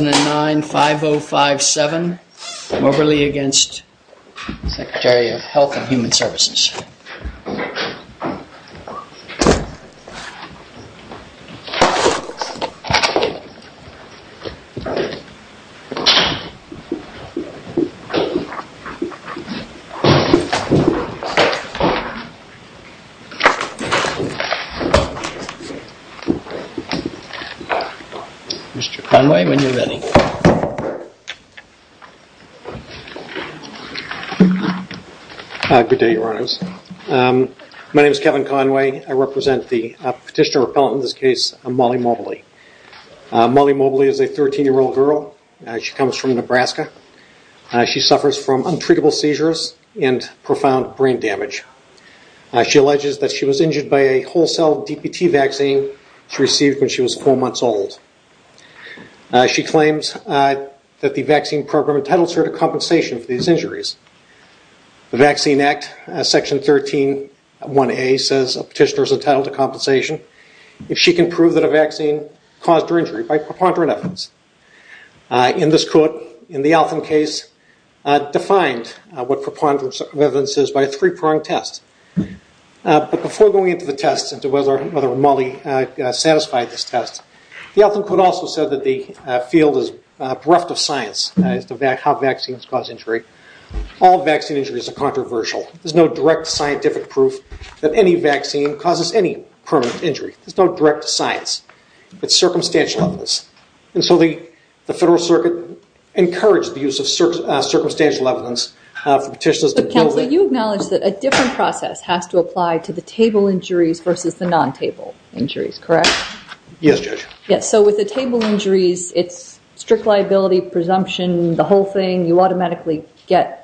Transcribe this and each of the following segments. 2009-5057, Morberly v. Secretary of Health and Human Services. Mr. Conway, when you're ready. Good day, your honors. My name is Kevin Conway. I represent the petitioner repellent in this case, Molly Morberly. Molly Morberly is a 13-year-old girl. She comes from Nebraska. She suffers from untreatable seizures and profound brain damage. She alleges that she was injured by a wholesale DPT vaccine she received when she was four months old. She claims that the vaccine program entitles her to compensation for these injuries. The Vaccine Act, Section 13-1A says a petitioner is entitled to compensation if she can prove that a vaccine caused her injury by preponderance of evidence. In this court, in the Altham case, defined what preponderance of evidence is by a three-prong test. But before going into the test and whether Molly satisfied this test, the Altham court also said that the field is bereft of science as to how vaccines cause injury. All vaccine injuries are controversial. There's no direct scientific proof that any vaccine causes any permanent injury. There's no direct science. It's circumstantial evidence. And so the Federal Circuit encouraged the use of circumstantial evidence. But Counsel, you acknowledge that a different process has to apply to the table injuries versus the non-table injuries, correct? Yes, Judge. So with the table injuries, it's strict liability, presumption, the whole thing, you automatically get...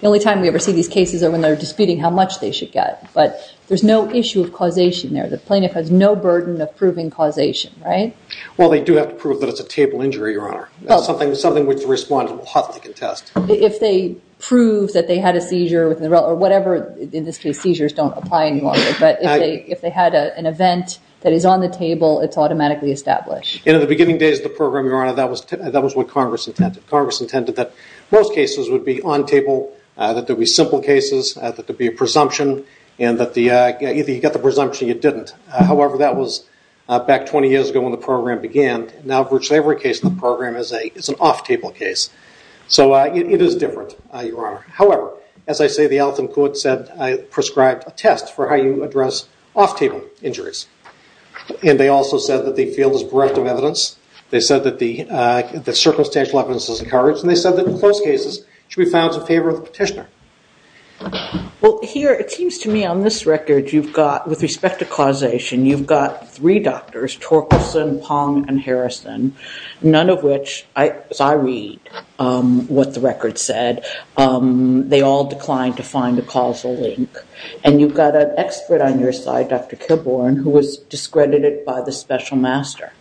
The only time we ever see these cases are when they're disputing how much they should get. But there's no issue of causation there. The plaintiff has no burden of proving causation, right? Well, they do have to prove that it's a table injury, Your Honor. Something which the respondent will hotly contest. If they prove that they had a seizure or whatever, in this case seizures don't apply any longer. But if they had an event that is on the table, it's automatically established. In the beginning days of the program, Your Honor, that was what Congress intended. Congress intended that most cases would be on table, that there'd be simple cases, that there'd be a presumption, and that either you got the presumption or you didn't. However, that was back 20 years ago when the program began. And now virtually every case in the program is an off-table case. So it is different, Your Honor. However, as I say, the elephant in quotes said, I prescribed a test for how you address off-table injuries. And they also said that the field is bereft of evidence. They said that the circumstantial evidence is encouraged. And they said that in most cases, it should be found to favor the petitioner. Well, here it seems to me on this record you've got, with respect to causation, you've got three doctors, Torkelson, Pong, and Harrison, none of which, as I read what the record said, they all declined to find a causal link. And you've got an expert on your side, Dr. Kilbourn, who was discredited by the special master.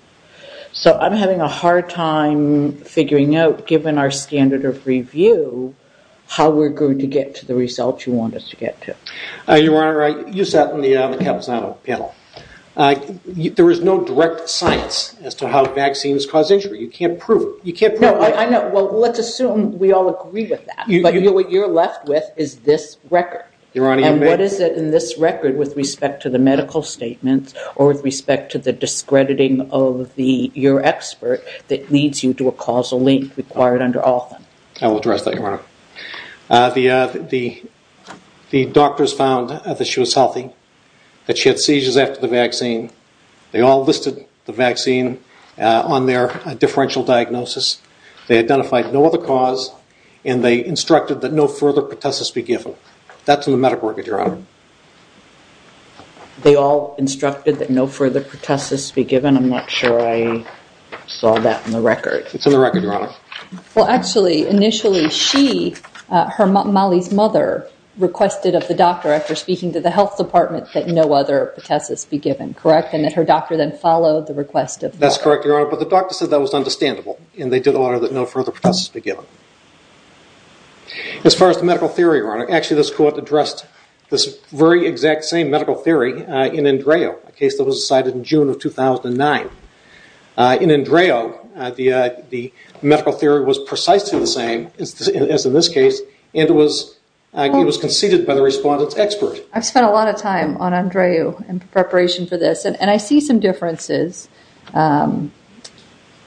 So I'm having a hard time figuring out, given our standard of review, how we're going to get to the results you want us to get to. Your Honor, you sat on the Capitano panel. There is no direct science as to how vaccines cause injury. You can't prove it. No, I know. Well, let's assume we all agree with that. But what you're left with is this record. Your Honor, you may. What is it in this record with respect to the medical statements or with respect to the discrediting of your expert that leads you to a causal link required under all of them? I will address that, Your Honor. The doctors found that she was healthy, that she had seizures after the vaccine. They all listed the vaccine on their differential diagnosis. They identified no other cause, and they instructed that no further pertussis be given. That's in the medical record, Your Honor. They all instructed that no further pertussis be given? I'm not sure I saw that in the record. It's in the record, Your Honor. Well, actually, initially, she, Molly's mother, requested of the doctor after speaking to the health department that no other pertussis be given, correct? And that her doctor then followed the request of the doctor. That's correct, Your Honor. But the doctor said that was understandable, and they did order that no further pertussis be given. As far as the medical theory, Your Honor, actually this court addressed this very exact same medical theory in Andreu, a case that was decided in June of 2009. In Andreu, the medical theory was precisely the same as in this case, and it was conceded by the respondent's expert. I've spent a lot of time on Andreu in preparation for this, and I see some differences. In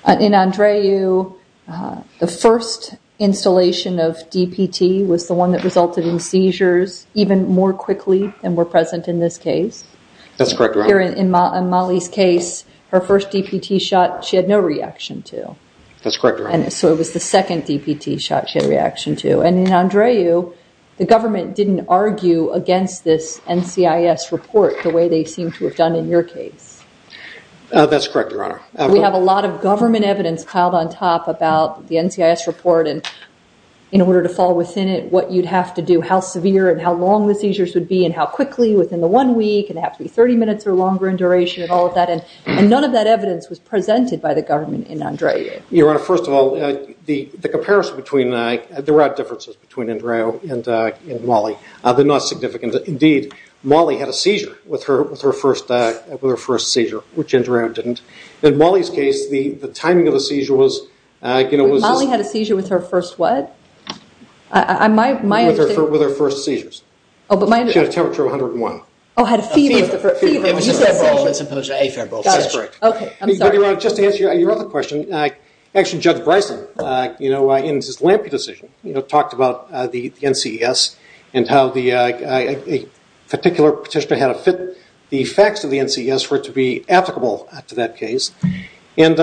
Andreu, the first installation of DPT was the one that resulted in seizures even more quickly than were present in this case. That's correct, Your Honor. Here in Molly's case, her first DPT shot she had no reaction to. That's correct, Your Honor. And so it was the second DPT shot she had a reaction to. And in Andreu, the government didn't argue against this NCIS report the way they seem to have done in your case. That's correct, Your Honor. We have a lot of government evidence piled on top about the NCIS report, and in order to fall within it, what you'd have to do, how severe and how long the seizures would be, and how quickly, within the one week, and it'd have to be 30 minutes or longer in duration, and none of that evidence was presented by the government in Andreu. Your Honor, first of all, there are differences between Andreu and Molly. They're not significant. Indeed, Molly had a seizure with her first seizure, which Andreu didn't. In Molly's case, the timing of the seizure was, you know, Molly had a seizure with her first what? With her first seizures. She had a temperature of 101. Oh, had a fever. It was a febrile as opposed to afebrile. That is correct. Okay, I'm sorry. But Your Honor, just to answer your other question, actually Judge Bryson, you know, in his Lampe decision, you know, talked about the NCES and how the particular petitioner had to fit the facts of the NCES for it to be applicable to that case. And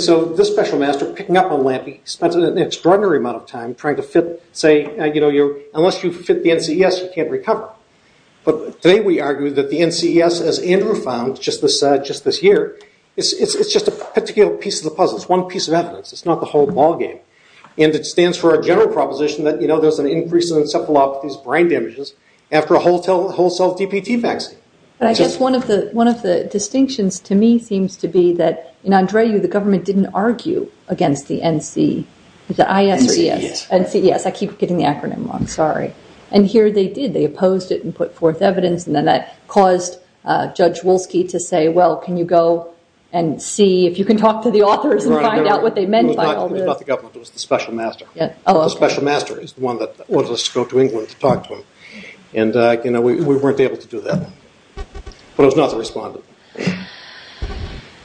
so this special master, picking up on Lampe, spent an extraordinary amount of time trying to fit, say, you know, unless you fit the NCES, you can't recover. But today we argue that the NCES, as Andreu found just this year, it's just a particular piece of the puzzle. It's one piece of evidence. It's not the whole ballgame. And it stands for a general proposition that, you know, there's an increase in encephalopathies, brain damages, after a wholesale DPT vaccine. I guess one of the distinctions to me seems to be that in Andreu the government didn't argue against the NC, the IS or ES? NCES. NCES. I keep getting the acronym wrong. Sorry. And here they did. They opposed it and put forth evidence, and then that caused Judge Wolski to say, well, can you go and see if you can talk to the authors and find out what they meant by all this? No, it was not the government. It was the special master. The special master is the one that wanted us to go to England to talk to him. And, you know, we weren't able to do that. But it was not the respondent.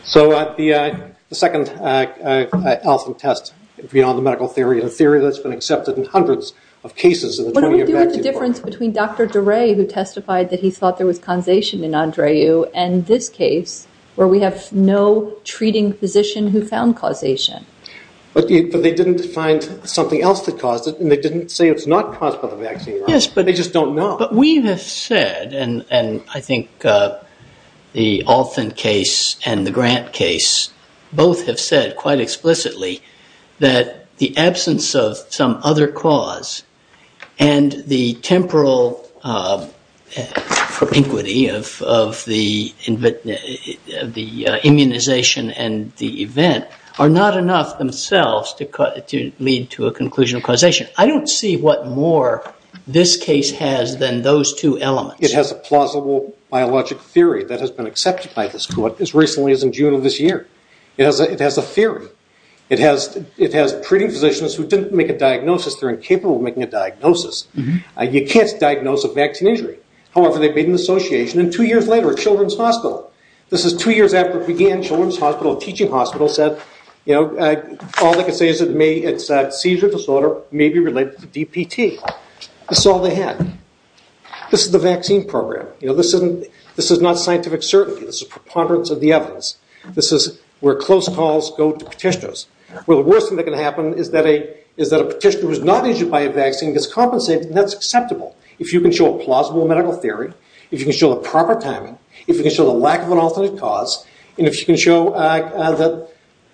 So the second Allison test, beyond the medical theory, is a theory that's been accepted in hundreds of cases in the 20-year vaccine program. What do we do with the difference between Dr. DeRay who testified that he thought there was causation in Andreu and this case where we have no treating physician who found causation? But they didn't find something else that caused it, and they didn't say it's not caused by the vaccine. Yes. But they just don't know. But we have said, and I think the Alton case and the Grant case both have said quite explicitly, that the absence of some other cause and the temporal inquity of the immunization and the event are not enough themselves to lead to a conclusion of causation. I don't see what more this case has than those two elements. It has a plausible biologic theory that has been accepted by this court as recently as in June of this year. It has a theory. It has treating physicians who didn't make a diagnosis. They're incapable of making a diagnosis. You can't diagnose a vaccine injury. However, they've made an association, and two years later at Children's Hospital, this is two years after it began, Children's Hospital, a teaching hospital, said all they can say is it's a seizure disorder, maybe related to DPT. This is all they had. This is the vaccine program. This is not scientific certainty. This is preponderance of the evidence. This is where close calls go to petitioners. Well, the worst thing that can happen is that a petitioner who is not injured by a vaccine gets compensated, and that's acceptable if you can show a plausible medical theory, if you can show the proper timing, if you can show the lack of an alternate cause, and if you can show that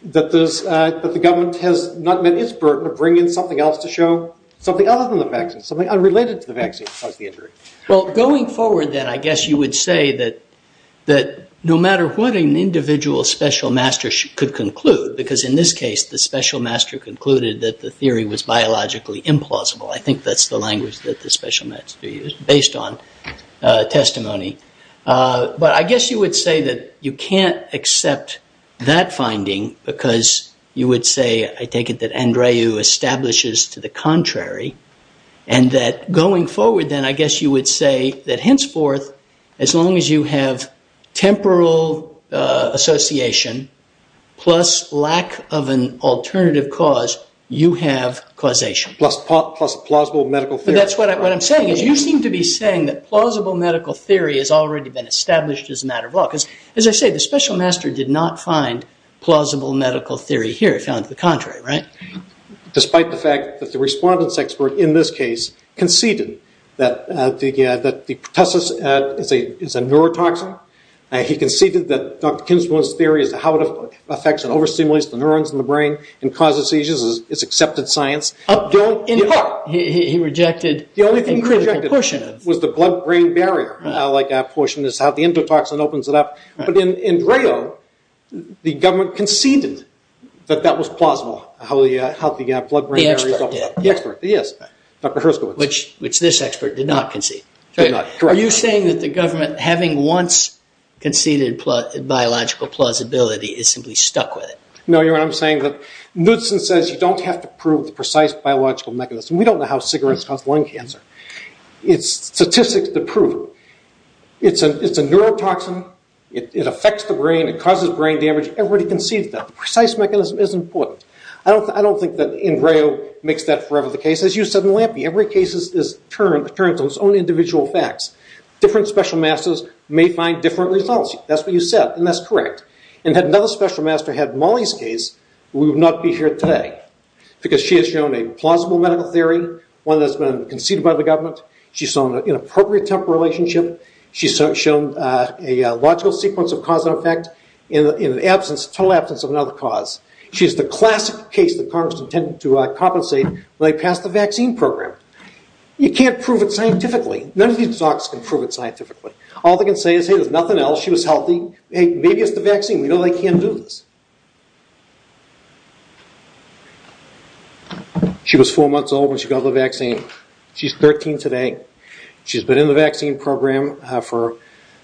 the government has not met its burden of bringing something else to show, something other than the vaccine, something unrelated to the vaccine that caused the injury. Well, going forward then, I guess you would say that no matter what an individual special master could conclude, because in this case the special master concluded that the theory was biologically implausible. I think that's the language that the special masters use based on testimony. But I guess you would say that you can't accept that finding because you would say, I take it that Andreu establishes to the contrary, and that going forward then, I guess you would say that henceforth, as long as you have temporal association plus lack of an alternative cause, you have causation. Plus a plausible medical theory. That's what I'm saying. You seem to be saying that plausible medical theory has already been established as a matter of law, because as I say, the special master did not find plausible medical theory here. He found it to the contrary, right? Despite the fact that the respondent's expert in this case conceded that the pertussis is a neurotoxin. He conceded that Dr. Kinsman's theory as to how it affects and overstimulates the neurons in the brain and causes seizures is accepted science. He rejected a critical portion of it. The only thing he rejected was the blood-brain barrier portion, is how the endotoxin opens it up. But Andreu, the government conceded that that was plausible, how the blood-brain barrier opens up. The expert did. The expert, yes, Dr. Herskowitz. Which this expert did not concede. Did not, correct. Are you saying that the government, having once conceded biological plausibility, is simply stuck with it? No, you know what I'm saying? Knudsen says you don't have to prove the precise biological mechanism. We don't know how cigarettes cause lung cancer. It's statistics to prove it. It's a neurotoxin. It affects the brain. It causes brain damage. Everybody concedes that. The precise mechanism is important. I don't think that Andreu makes that forever the case. As you said in Lampe, every case is turned to its own individual facts. Different special masters may find different results. That's what you said, and that's correct. And had another special master had Molly's case, we would not be here today because she has shown a plausible medical theory, one that's been conceded by the government. She's shown an inappropriate temporal relationship. She's shown a logical sequence of cause and effect in the total absence of another cause. She's the classic case that Congress intended to compensate when they passed the vaccine program. You can't prove it scientifically. None of these docs can prove it scientifically. All they can say is, hey, there's nothing else. She was healthy. Hey, maybe it's the vaccine. We know they can't do this. She was four months old when she got the vaccine. She's 13 today. She's been in the vaccine program for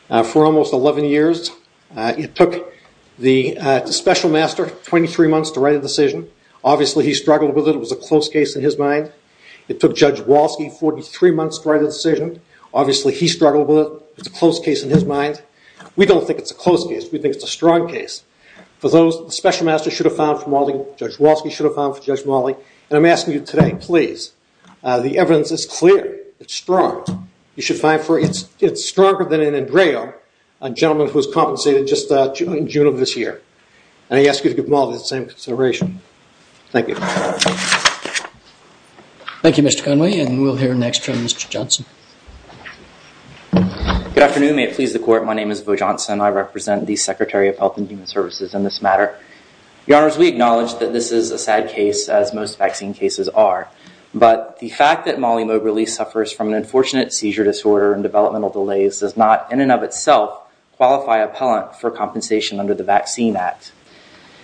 almost 11 years. It took the special master 23 months to write a decision. Obviously, he struggled with it. It was a close case in his mind. It took Judge Walsky 43 months to write a decision. Obviously, he struggled with it. It's a close case in his mind. We don't think it's a close case. We think it's a strong case. For those, the special master should have found for Molly. Judge Walsky should have found for Judge Molly. And I'm asking you today, please. The evidence is clear. It's strong. You should find for it. It's stronger than an Andrea, a gentleman who was compensated just in June of this year. And I ask you to give Molly the same consideration. Thank you. Thank you, Mr. Conway. And we'll hear next from Mr. Johnson. Good afternoon. May it please the Court. My name is Vo Johnson. I represent the Secretary of Health and Human Services in this matter. Your Honors, we acknowledge that this is a sad case, as most vaccine cases are. But the fact that Molly Moberly suffers from an unfortunate seizure disorder and developmental delays does not, in and of itself, qualify appellant for compensation under the Vaccine Act.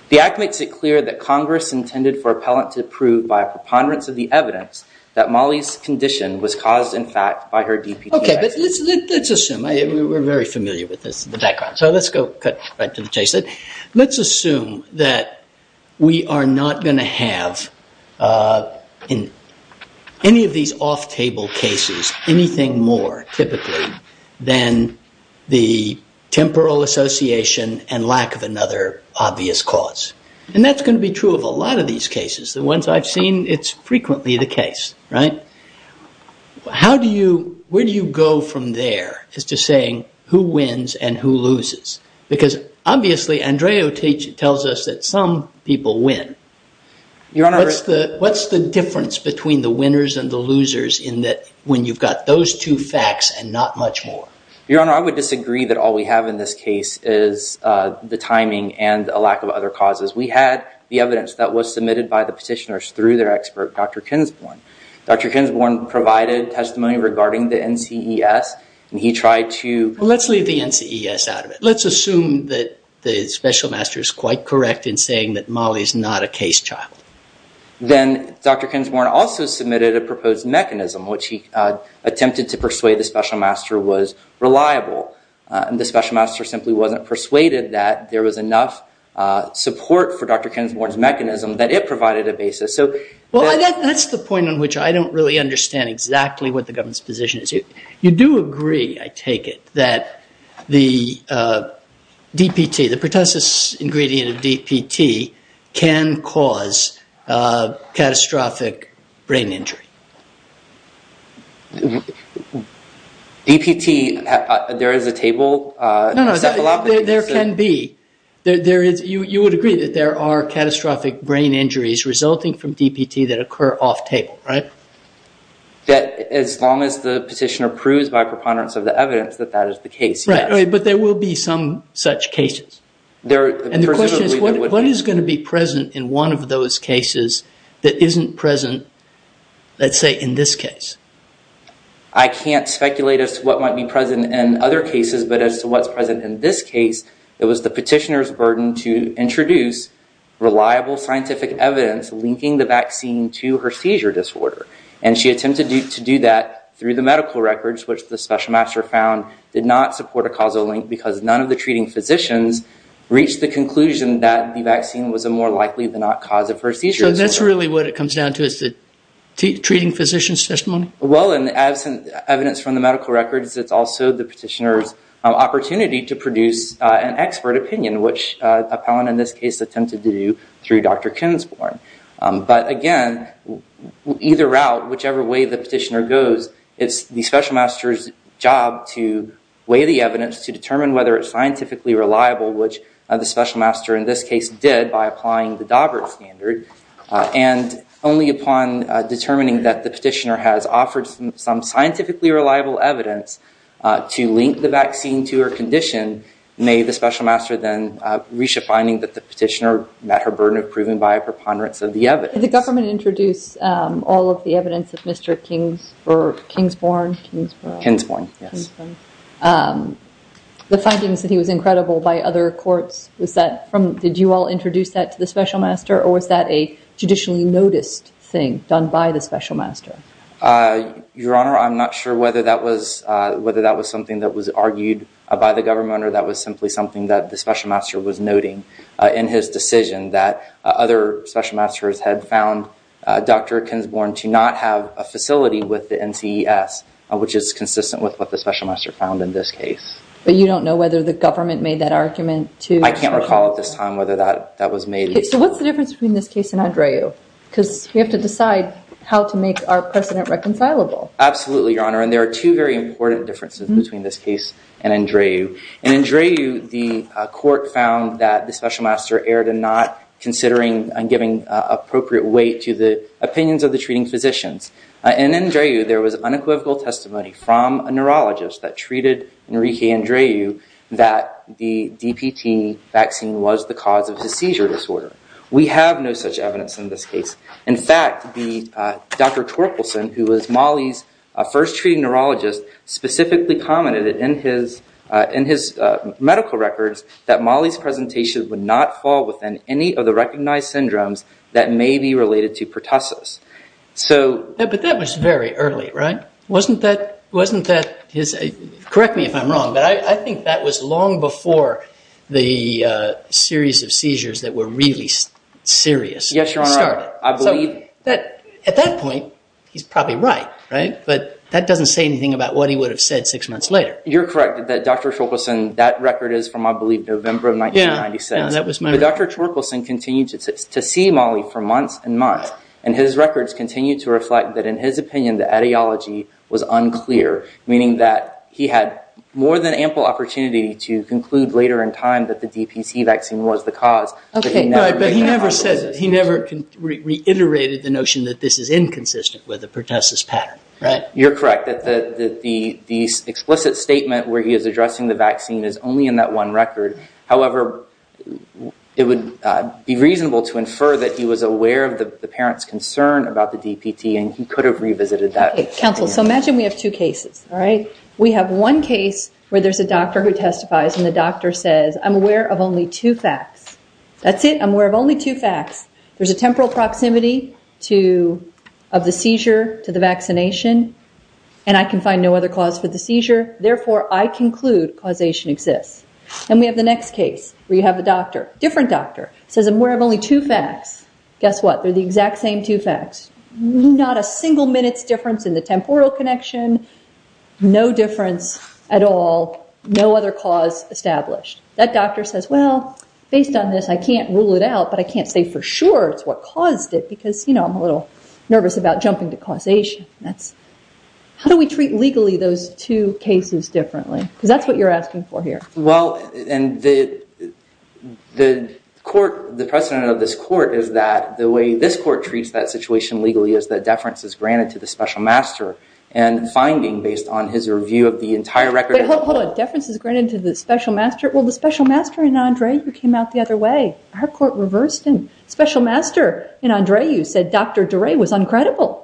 The Act makes it clear that Congress intended for appellant to prove, by a preponderance of the evidence, that Molly's condition was caused, in fact, by her DPT vaccine. OK. But let's assume. We're very familiar with this, the background. So let's go right to the chase. Let's assume that we are not going to have, in any of these off-table cases, anything more, typically, than the temporal association and lack of another obvious cause. And that's going to be true of a lot of these cases. The ones I've seen, it's frequently the case, right? Where do you go from there as to saying who wins and who loses? Because, obviously, Andreo tells us that some people win. Your Honor. What's the difference between the winners and the losers in that when you've got those two facts and not much more? Your Honor, I would disagree that all we have in this case is the timing and a lack of other causes. We had the evidence that was submitted by the petitioners through their expert, Dr. Kinsborn. Dr. Kinsborn provided testimony regarding the NCES, and he tried to... Let's leave the NCES out of it. Let's assume that the special master is quite correct in saying that Molly is not a case child. Then Dr. Kinsborn also submitted a proposed mechanism, which he attempted to persuade the special master was reliable. The special master simply wasn't persuaded that there was enough support for Dr. Kinsborn's mechanism that it provided a basis. Well, that's the point on which I don't really understand exactly what the government's position is. You do agree, I take it, that the DPT, the pertussis ingredient of DPT, can cause catastrophic brain injury. DPT, there is a table... No, no, there can be. You would agree that there are catastrophic brain injuries resulting from DPT that occur off table, right? That as long as the petitioner proves by preponderance of the evidence that that is the case, yes. Right, but there will be some such cases. And the question is, what is going to be present in one of those cases that isn't present, let's say, in this case? I can't speculate as to what might be present in other cases, but as to what's present in this case, it was the petitioner's burden to introduce reliable scientific evidence linking the vaccine to her seizure disorder. And she attempted to do that through the medical records, which the special master found did not support a causal link because none of the treating physicians reached the conclusion that the vaccine was a more likely than not cause of her seizure disorder. So that's really what it comes down to is the treating physician's testimony? Well, in the absence of evidence from the medical records, it's also the petitioner's opportunity to produce an expert opinion, which Appellant in this case attempted to do through Dr. Kinsborn. But again, either route, whichever way the petitioner goes, it's the special master's job to weigh the evidence to determine whether it's scientifically reliable, which the special master in this case did by applying the Daubert standard. And only upon determining that the petitioner has offered some scientifically reliable evidence to link the vaccine to her condition, may the special master then reach a finding that the petitioner met her burden of proving by a preponderance of the evidence. Did the government introduce all of the evidence of Mr. Kinsborn? Kinsborn, yes. The findings that he was incredible by other courts, did you all introduce that to the special master? Or was that a judicially noticed thing done by the special master? Your Honor, I'm not sure whether that was something that was argued by the government or that was simply something that the special master was noting in his decision that other special masters had found Dr. Kinsborn to not have a facility with the NCES, which is consistent with what the special master found in this case. But you don't know whether the government made that argument to the special master? I can't recall at this time whether that was made. So what's the difference between this case and Andreu? Because we have to decide how to make our precedent reconcilable. Absolutely, Your Honor. And there are two very important differences between this case and Andreu. In Andreu, the court found that the special master erred in not considering and giving appropriate weight to the opinions of the treating physicians. And in Andreu, there was unequivocal testimony from a neurologist that treated Enrique Andreu that the DPT vaccine was the cause of his seizure disorder. We have no such evidence in this case. In fact, Dr. Torkelson, who was Molly's first treating neurologist, specifically commented in his medical records that Molly's presentation would not fall within any of the recognized syndromes that may be related to pertussis. But that was very early, right? Wasn't that his – correct me if I'm wrong, but I think that was long before the series of seizures that were really serious started. Yes, Your Honor, I believe. At that point, he's probably right, right? But that doesn't say anything about what he would have said six months later. You're correct that Dr. Torkelson – that record is from, I believe, November of 1996. But Dr. Torkelson continued to see Molly for months and months, and his records continue to reflect that, in his opinion, the etiology was unclear, meaning that he had more than ample opportunity to conclude later in time that the DPT vaccine was the cause. But he never reiterated the notion that this is inconsistent with the pertussis pattern, right? You're correct. The explicit statement where he is addressing the vaccine is only in that one record. However, it would be reasonable to infer that he was aware of the parent's concern about the DPT, and he could have revisited that. Counsel, so imagine we have two cases, all right? We have one case where there's a doctor who testifies, and the doctor says, I'm aware of only two facts. That's it. I'm aware of only two facts. There's a temporal proximity of the seizure to the vaccination, and I can find no other cause for the seizure. Therefore, I conclude causation exists. And we have the next case where you have a doctor, different doctor, says, I'm aware of only two facts. Guess what? They're the exact same two facts, not a single minute's difference in the temporal connection, no difference at all, no other cause established. That doctor says, well, based on this, I can't rule it out, but I can't say for sure it's what caused it, because, you know, I'm a little nervous about jumping to causation. How do we treat legally those two cases differently? Because that's what you're asking for here. Well, and the court, the precedent of this court, is that the way this court treats that situation legally is that deference is granted to the special master, and finding based on his review of the entire record of the court. Hold on. Deference is granted to the special master? Well, the special master and Andre, you came out the other way. Our court reversed him. Special master and Andre, you said Dr. Duret was uncredible.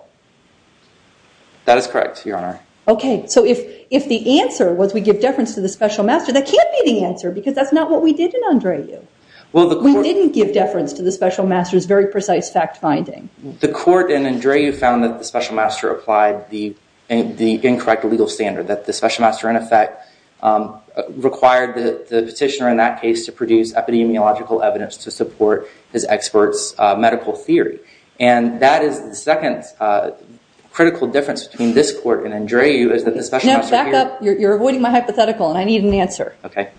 That is correct, Your Honor. Okay, so if the answer was we give deference to the special master, that can't be the answer, because that's not what we did in Andreu. We didn't give deference to the special master's very precise fact-finding. The court in Andreu found that the special master applied the incorrect legal standard, that the special master, in effect, required the petitioner in that case to produce epidemiological evidence to support his expert's medical theory. And that is the second critical difference between this court and Andreu, is that the special master here... No, back up. You're avoiding my hypothetical, and I need an answer. Okay.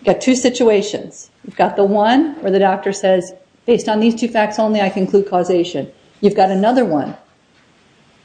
You've got two situations. You've got the one where the doctor says, based on these two facts only, I conclude causation. You've got another one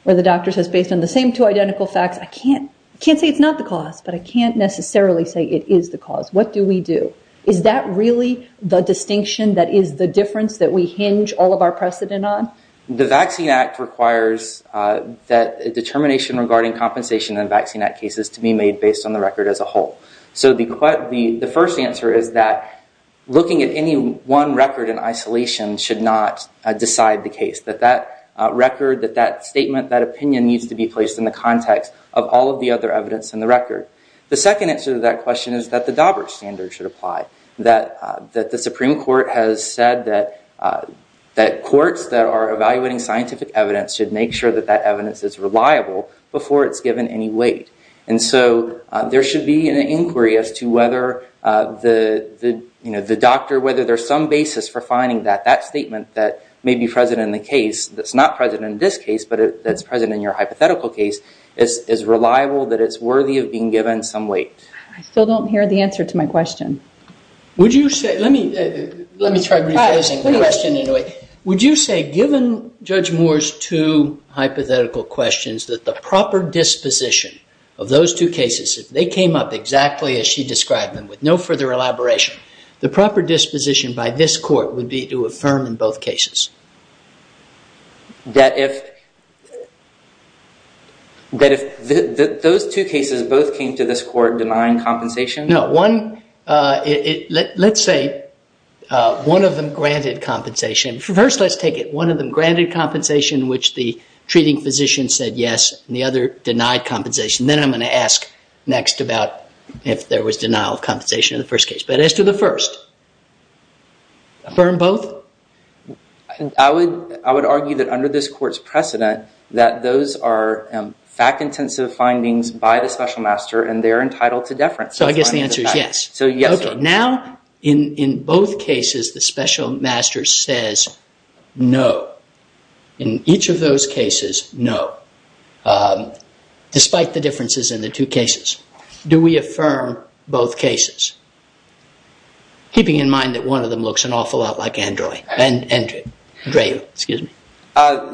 where the doctor says, based on the same two identical facts, I can't say it's not the cause, but I can't necessarily say it is the cause. What do we do? Is that really the distinction that is the difference that we hinge all of our precedent on? The Vaccine Act requires that a determination regarding compensation in a vaccine act case is to be made based on the record as a whole. So the first answer is that looking at any one record in isolation should not decide the case, that that record, that that statement, that opinion, needs to be placed in the context of all of the other evidence in the record. The second answer to that question is that the Daubert standard should apply, that the Supreme Court has said that courts that are evaluating scientific evidence should make sure that that evidence is reliable before it's given any weight. And so there should be an inquiry as to whether the doctor, whether there's some basis for finding that that statement that may be present in the case, that's not present in this case, but that's present in your hypothetical case, is reliable, that it's worthy of being given some weight. I still don't hear the answer to my question. Would you say, let me try rephrasing the question in a way. Would you say given Judge Moore's two hypothetical questions that the proper disposition of those two cases, if they came up exactly as she described them with no further elaboration, the proper disposition by this court would be to affirm in both cases? That if those two cases both came to this court denying compensation? No. Let's say one of them granted compensation. First, let's take it. One of them granted compensation which the treating physician said yes, and the other denied compensation. Then I'm going to ask next about if there was denial of compensation in the first case. But as to the first, affirm both? I would argue that under this court's precedent, that those are fact-intensive findings by the special master and they're entitled to deference. I guess the answer is yes. Yes. Now, in both cases, the special master says no. In each of those cases, no. Despite the differences in the two cases. Do we affirm both cases? Keeping in mind that one of them looks an awful lot like Andrea. Andrea, excuse me.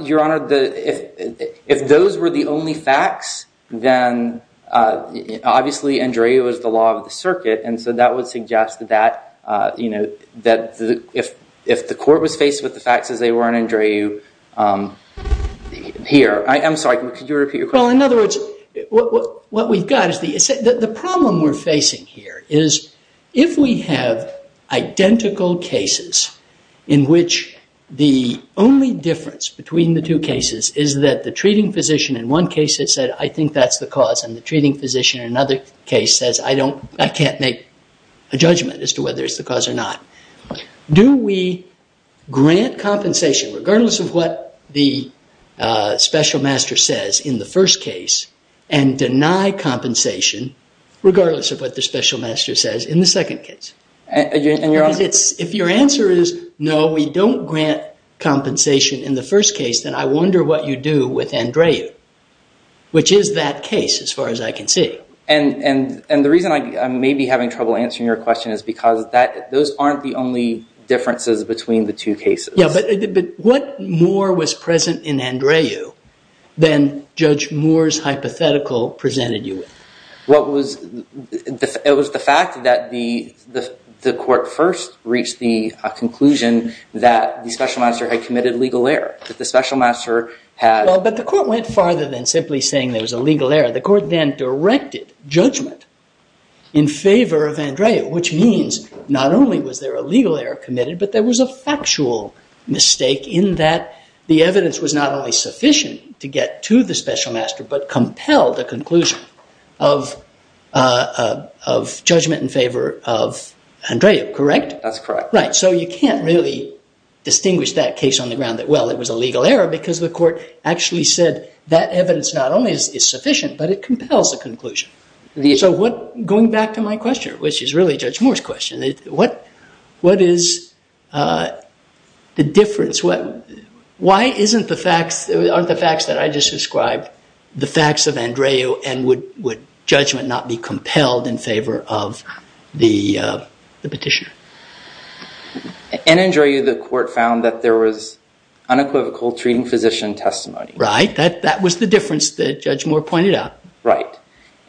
Your Honor, if those were the only facts, then obviously Andrea was the law of the circuit, and so that would suggest that if the court was faced with the facts as they were in Andrea here. I'm sorry, could you repeat your question? Well, in other words, what we've got is the problem we're facing here is if we have identical cases in which the only difference between the two cases is that the treating physician in one case has said, I think that's the cause, and the treating physician in another case says, I can't make a judgment as to whether it's the cause or not. Do we grant compensation regardless of what the special master says in the first case and deny compensation regardless of what the special master says in the second case? If your answer is no, we don't grant compensation in the first case, then I wonder what you do with Andrea, which is that case as far as I can see. And the reason I may be having trouble answering your question is because those aren't the only differences between the two cases. Yeah, but what more was present in Andrea than Judge Moore's hypothetical presented you with? It was the fact that the court first reached the conclusion that the special master had committed legal error, that the special master had- Well, but the court went farther than simply saying there was a legal error. The court then directed judgment in favor of Andrea, which means not only was there a legal error committed, but there was a factual mistake in that the evidence was not only sufficient to get to the special master but compelled a conclusion of judgment in favor of Andrea, correct? That's correct. Right, so you can't really distinguish that case on the ground that, well, it was a legal error because the court actually said that evidence not only is sufficient, but it compels a conclusion. So going back to my question, which is really Judge Moore's question, what is the difference? Why aren't the facts that I just described the facts of Andrea and would judgment not be compelled in favor of the petitioner? In Andrea, the court found that there was unequivocal treating physician testimony. Right, that was the difference that Judge Moore pointed out. Right,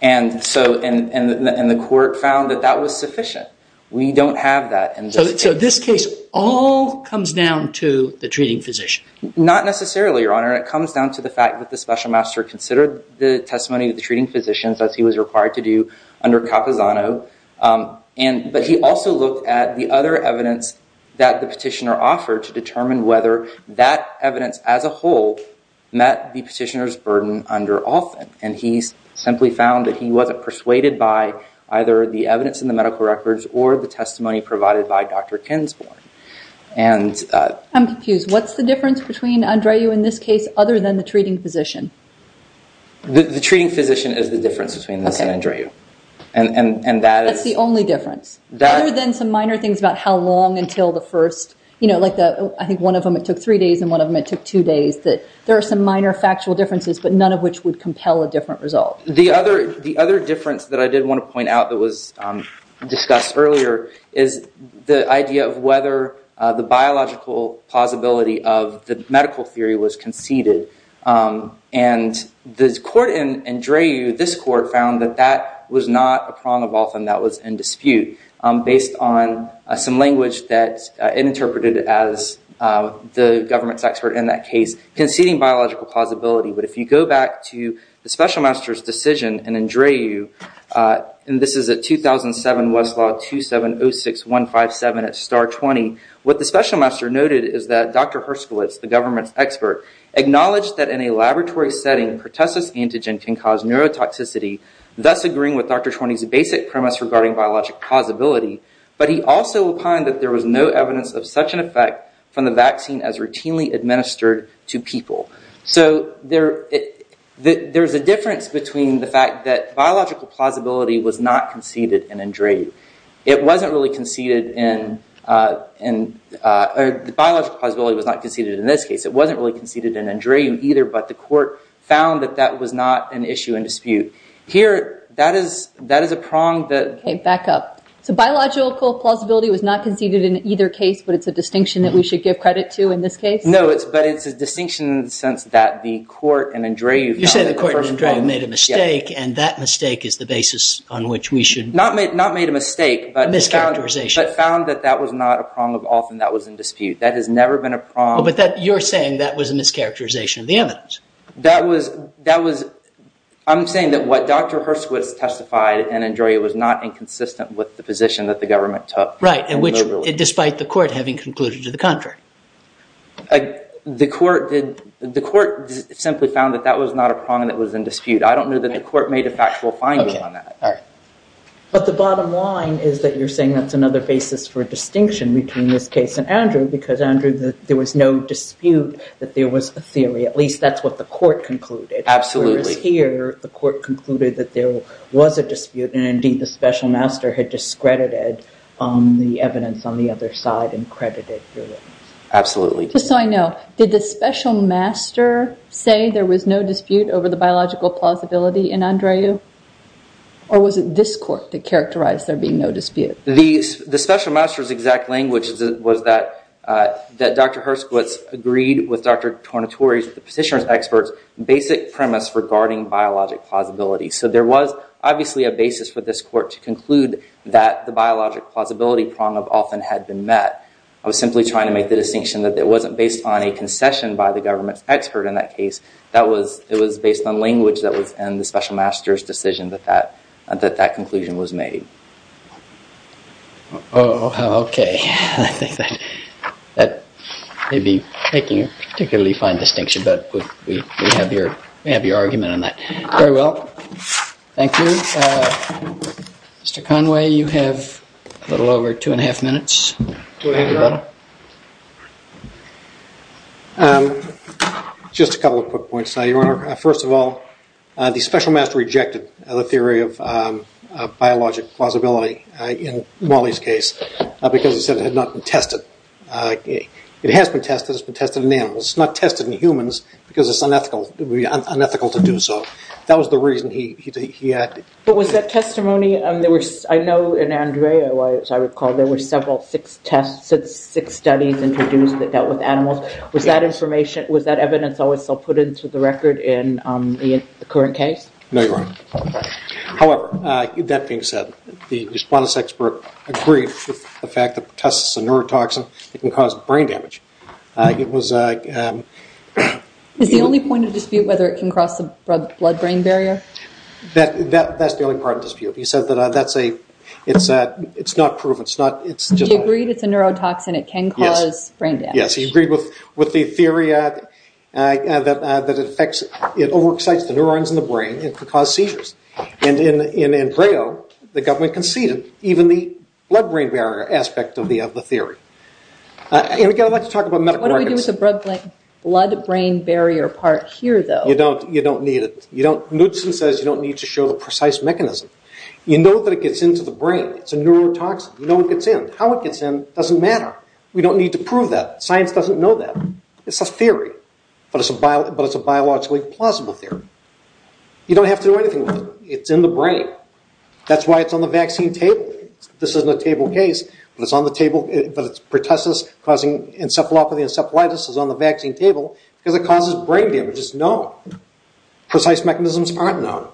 and the court found that that was sufficient. We don't have that in this case. So this case all comes down to the treating physician? Not necessarily, Your Honor. It comes down to the fact that the special master considered the testimony of the treating physicians, as he was required to do under Capozzano, but he also looked at the other evidence that the petitioner offered to determine whether that evidence as a whole met the petitioner's burden under Althon, and he simply found that he wasn't persuaded by either the evidence in the medical records or the testimony provided by Dr. Kinsborn. I'm confused. What's the difference between Andrea in this case other than the treating physician? The treating physician is the difference between this and Andrea. That's the only difference? Other than some minor things about how long until the first, like I think one of them it took three days and one of them it took two days, that there are some minor factual differences, but none of which would compel a different result. The other difference that I did want to point out that was discussed earlier is the idea of whether the biological possibility of the medical theory was conceded, and this court in Dreyu, this court found that that was not a prong of Althon that was in dispute, based on some language that it interpreted as the government's expert in that case, conceding biological plausibility. But if you go back to the special master's decision in Dreyu, and this is a 2007 Westlaw 2706157 at STAR-20, what the special master noted is that Dr. Herskowitz, the government's expert, acknowledged that in a laboratory setting pertussis antigen can cause neurotoxicity, thus agreeing with Dr. Tworney's basic premise regarding biologic plausibility, but he also opined that there was no evidence of such an effect from the vaccine as routinely administered to people. So there's a difference between the fact that biological plausibility was not conceded in Dreyu. It wasn't really conceded in, biological plausibility was not conceded in this case. It wasn't really conceded in Dreyu either, but the court found that that was not an issue in dispute. Here, that is a prong that... Okay, back up. So biological plausibility was not conceded in either case, but it's a distinction that we should give credit to in this case? No, but it's a distinction in the sense that the court in Dreyu... You said the court in Dreyu made a mistake, and that mistake is the basis on which we should... Not made a mistake, but found that that was not a prong of often that was in dispute. That has never been a prong... But you're saying that was a mischaracterization of the evidence. That was... I'm saying that what Dr. Herskowitz testified in Dreyu was not inconsistent with the position that the government took. Right, and which, despite the court having concluded to the contrary. The court simply found that that was not a prong that was in dispute. I don't know that the court made a factual finding on that. Okay, all right. But the bottom line is that you're saying that's another basis for distinction between this case and Andrew, because Andrew, there was no dispute that there was a theory. At least that's what the court concluded. Absolutely. Whereas here, the court concluded that there was a dispute, and indeed the special master had discredited the evidence on the other side and credited... Absolutely. Just so I know, did the special master say there was no dispute over the biological plausibility in Andrew? Or was it this court that characterized there being no dispute? The special master's exact language was that Dr. Herskowitz agreed with Dr. Tornatore's, the petitioner's experts, basic premise regarding biologic plausibility. So there was obviously a basis for this court to conclude that the biologic plausibility prong often had been met. I was simply trying to make the distinction that it wasn't based on a concession by the government's expert in that case. It was based on language that was in the special master's decision that that conclusion was made. Oh, OK. I think that may be making a particularly fine distinction, but we have your argument on that. Very well. Thank you. Mr. Conway, you have a little over two and a half minutes. Go ahead, Your Honor. Just a couple of quick points, Your Honor. First of all, the special master rejected the theory of biologic plausibility in Wally's case because he said it had not been tested. It has been tested. It's been tested in animals. It's not tested in humans because it's unethical to do so. That was the reason he acted. But was that testimony, I know in Andrea, as I recall, there were several, six tests, six studies introduced that dealt with animals. Was that evidence always so put into the record in the current case? No, Your Honor. However, that being said, the response expert agreed with the fact that the test is a neurotoxin. It can cause brain damage. It was a... Is the only point of dispute whether it can cross the blood-brain barrier? That's the only part of dispute. He said that that's a... It's not proof. It's just... He agreed it's a neurotoxin. It can cause brain damage. Yes, he agreed with the theory that it over-excites the neurons in the brain and can cause seizures. And in Andrea, the government conceded, even the blood-brain barrier aspect of the theory. And again, I'd like to talk about medical records. What do we do with the blood-brain barrier part here, though? You don't need it. Knudsen says you don't need to show the precise mechanism. You know that it gets into the brain. It's a neurotoxin. You know it gets in. How it gets in doesn't matter. We don't need to prove that. Science doesn't know that. It's a theory. But it's a biologically plausible theory. You don't have to do anything with it. It's in the brain. That's why it's on the vaccine table. This isn't a table case, but it's on the table. But pertussis causing encephalopathy and encephalitis is on the vaccine table because it causes brain damage. It's known. Precise mechanisms aren't known.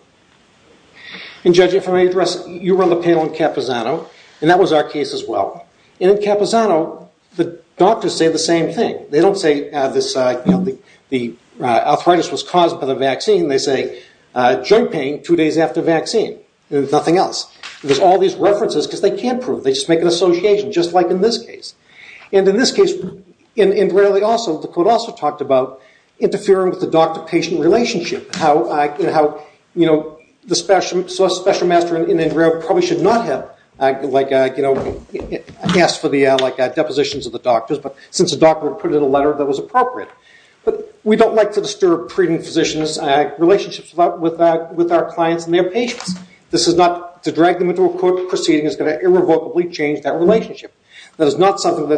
And, Judge, if I may address, you were on the panel in Capozzano, and that was our case as well. And in Capozzano, the doctors say the same thing. They don't say the arthritis was caused by the vaccine. They say joint pain two days after vaccine. Nothing else. There's all these references because they can't prove it. They just make an association, just like in this case. And in this case, the court also talked about interfering with the doctor-patient relationship, how the special master in Andrea probably should not have asked for the depositions of the doctors, but since the doctor put in a letter, that was appropriate. But we don't like to disturb treating physicians' relationships with our clients and their patients. To drag them into a court proceeding is going to irrevocably change that relationship. That is not something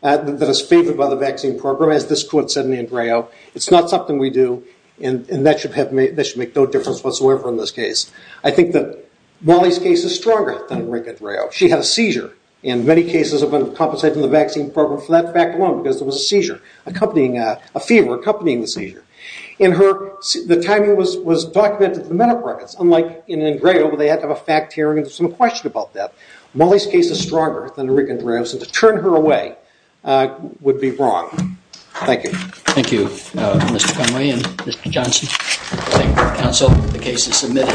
that is favored by the vaccine program, as this court said in Andrea. It's not something we do, and that should make no difference whatsoever in this case. I think that Molly's case is stronger than Rick Andrea. She had a seizure, and many cases have been compensated in the vaccine program for that fact alone because there was a seizure, a fever accompanying the seizure. And the timing was documented in the medical records. Unlike in Andrea where they had to have a fact hearing and some question about that, Molly's case is stronger than Rick Andrea's, and to turn her away would be wrong. Thank you. Thank you, Mr. Conway and Mr. Johnson. Thank you, counsel. The case is submitted.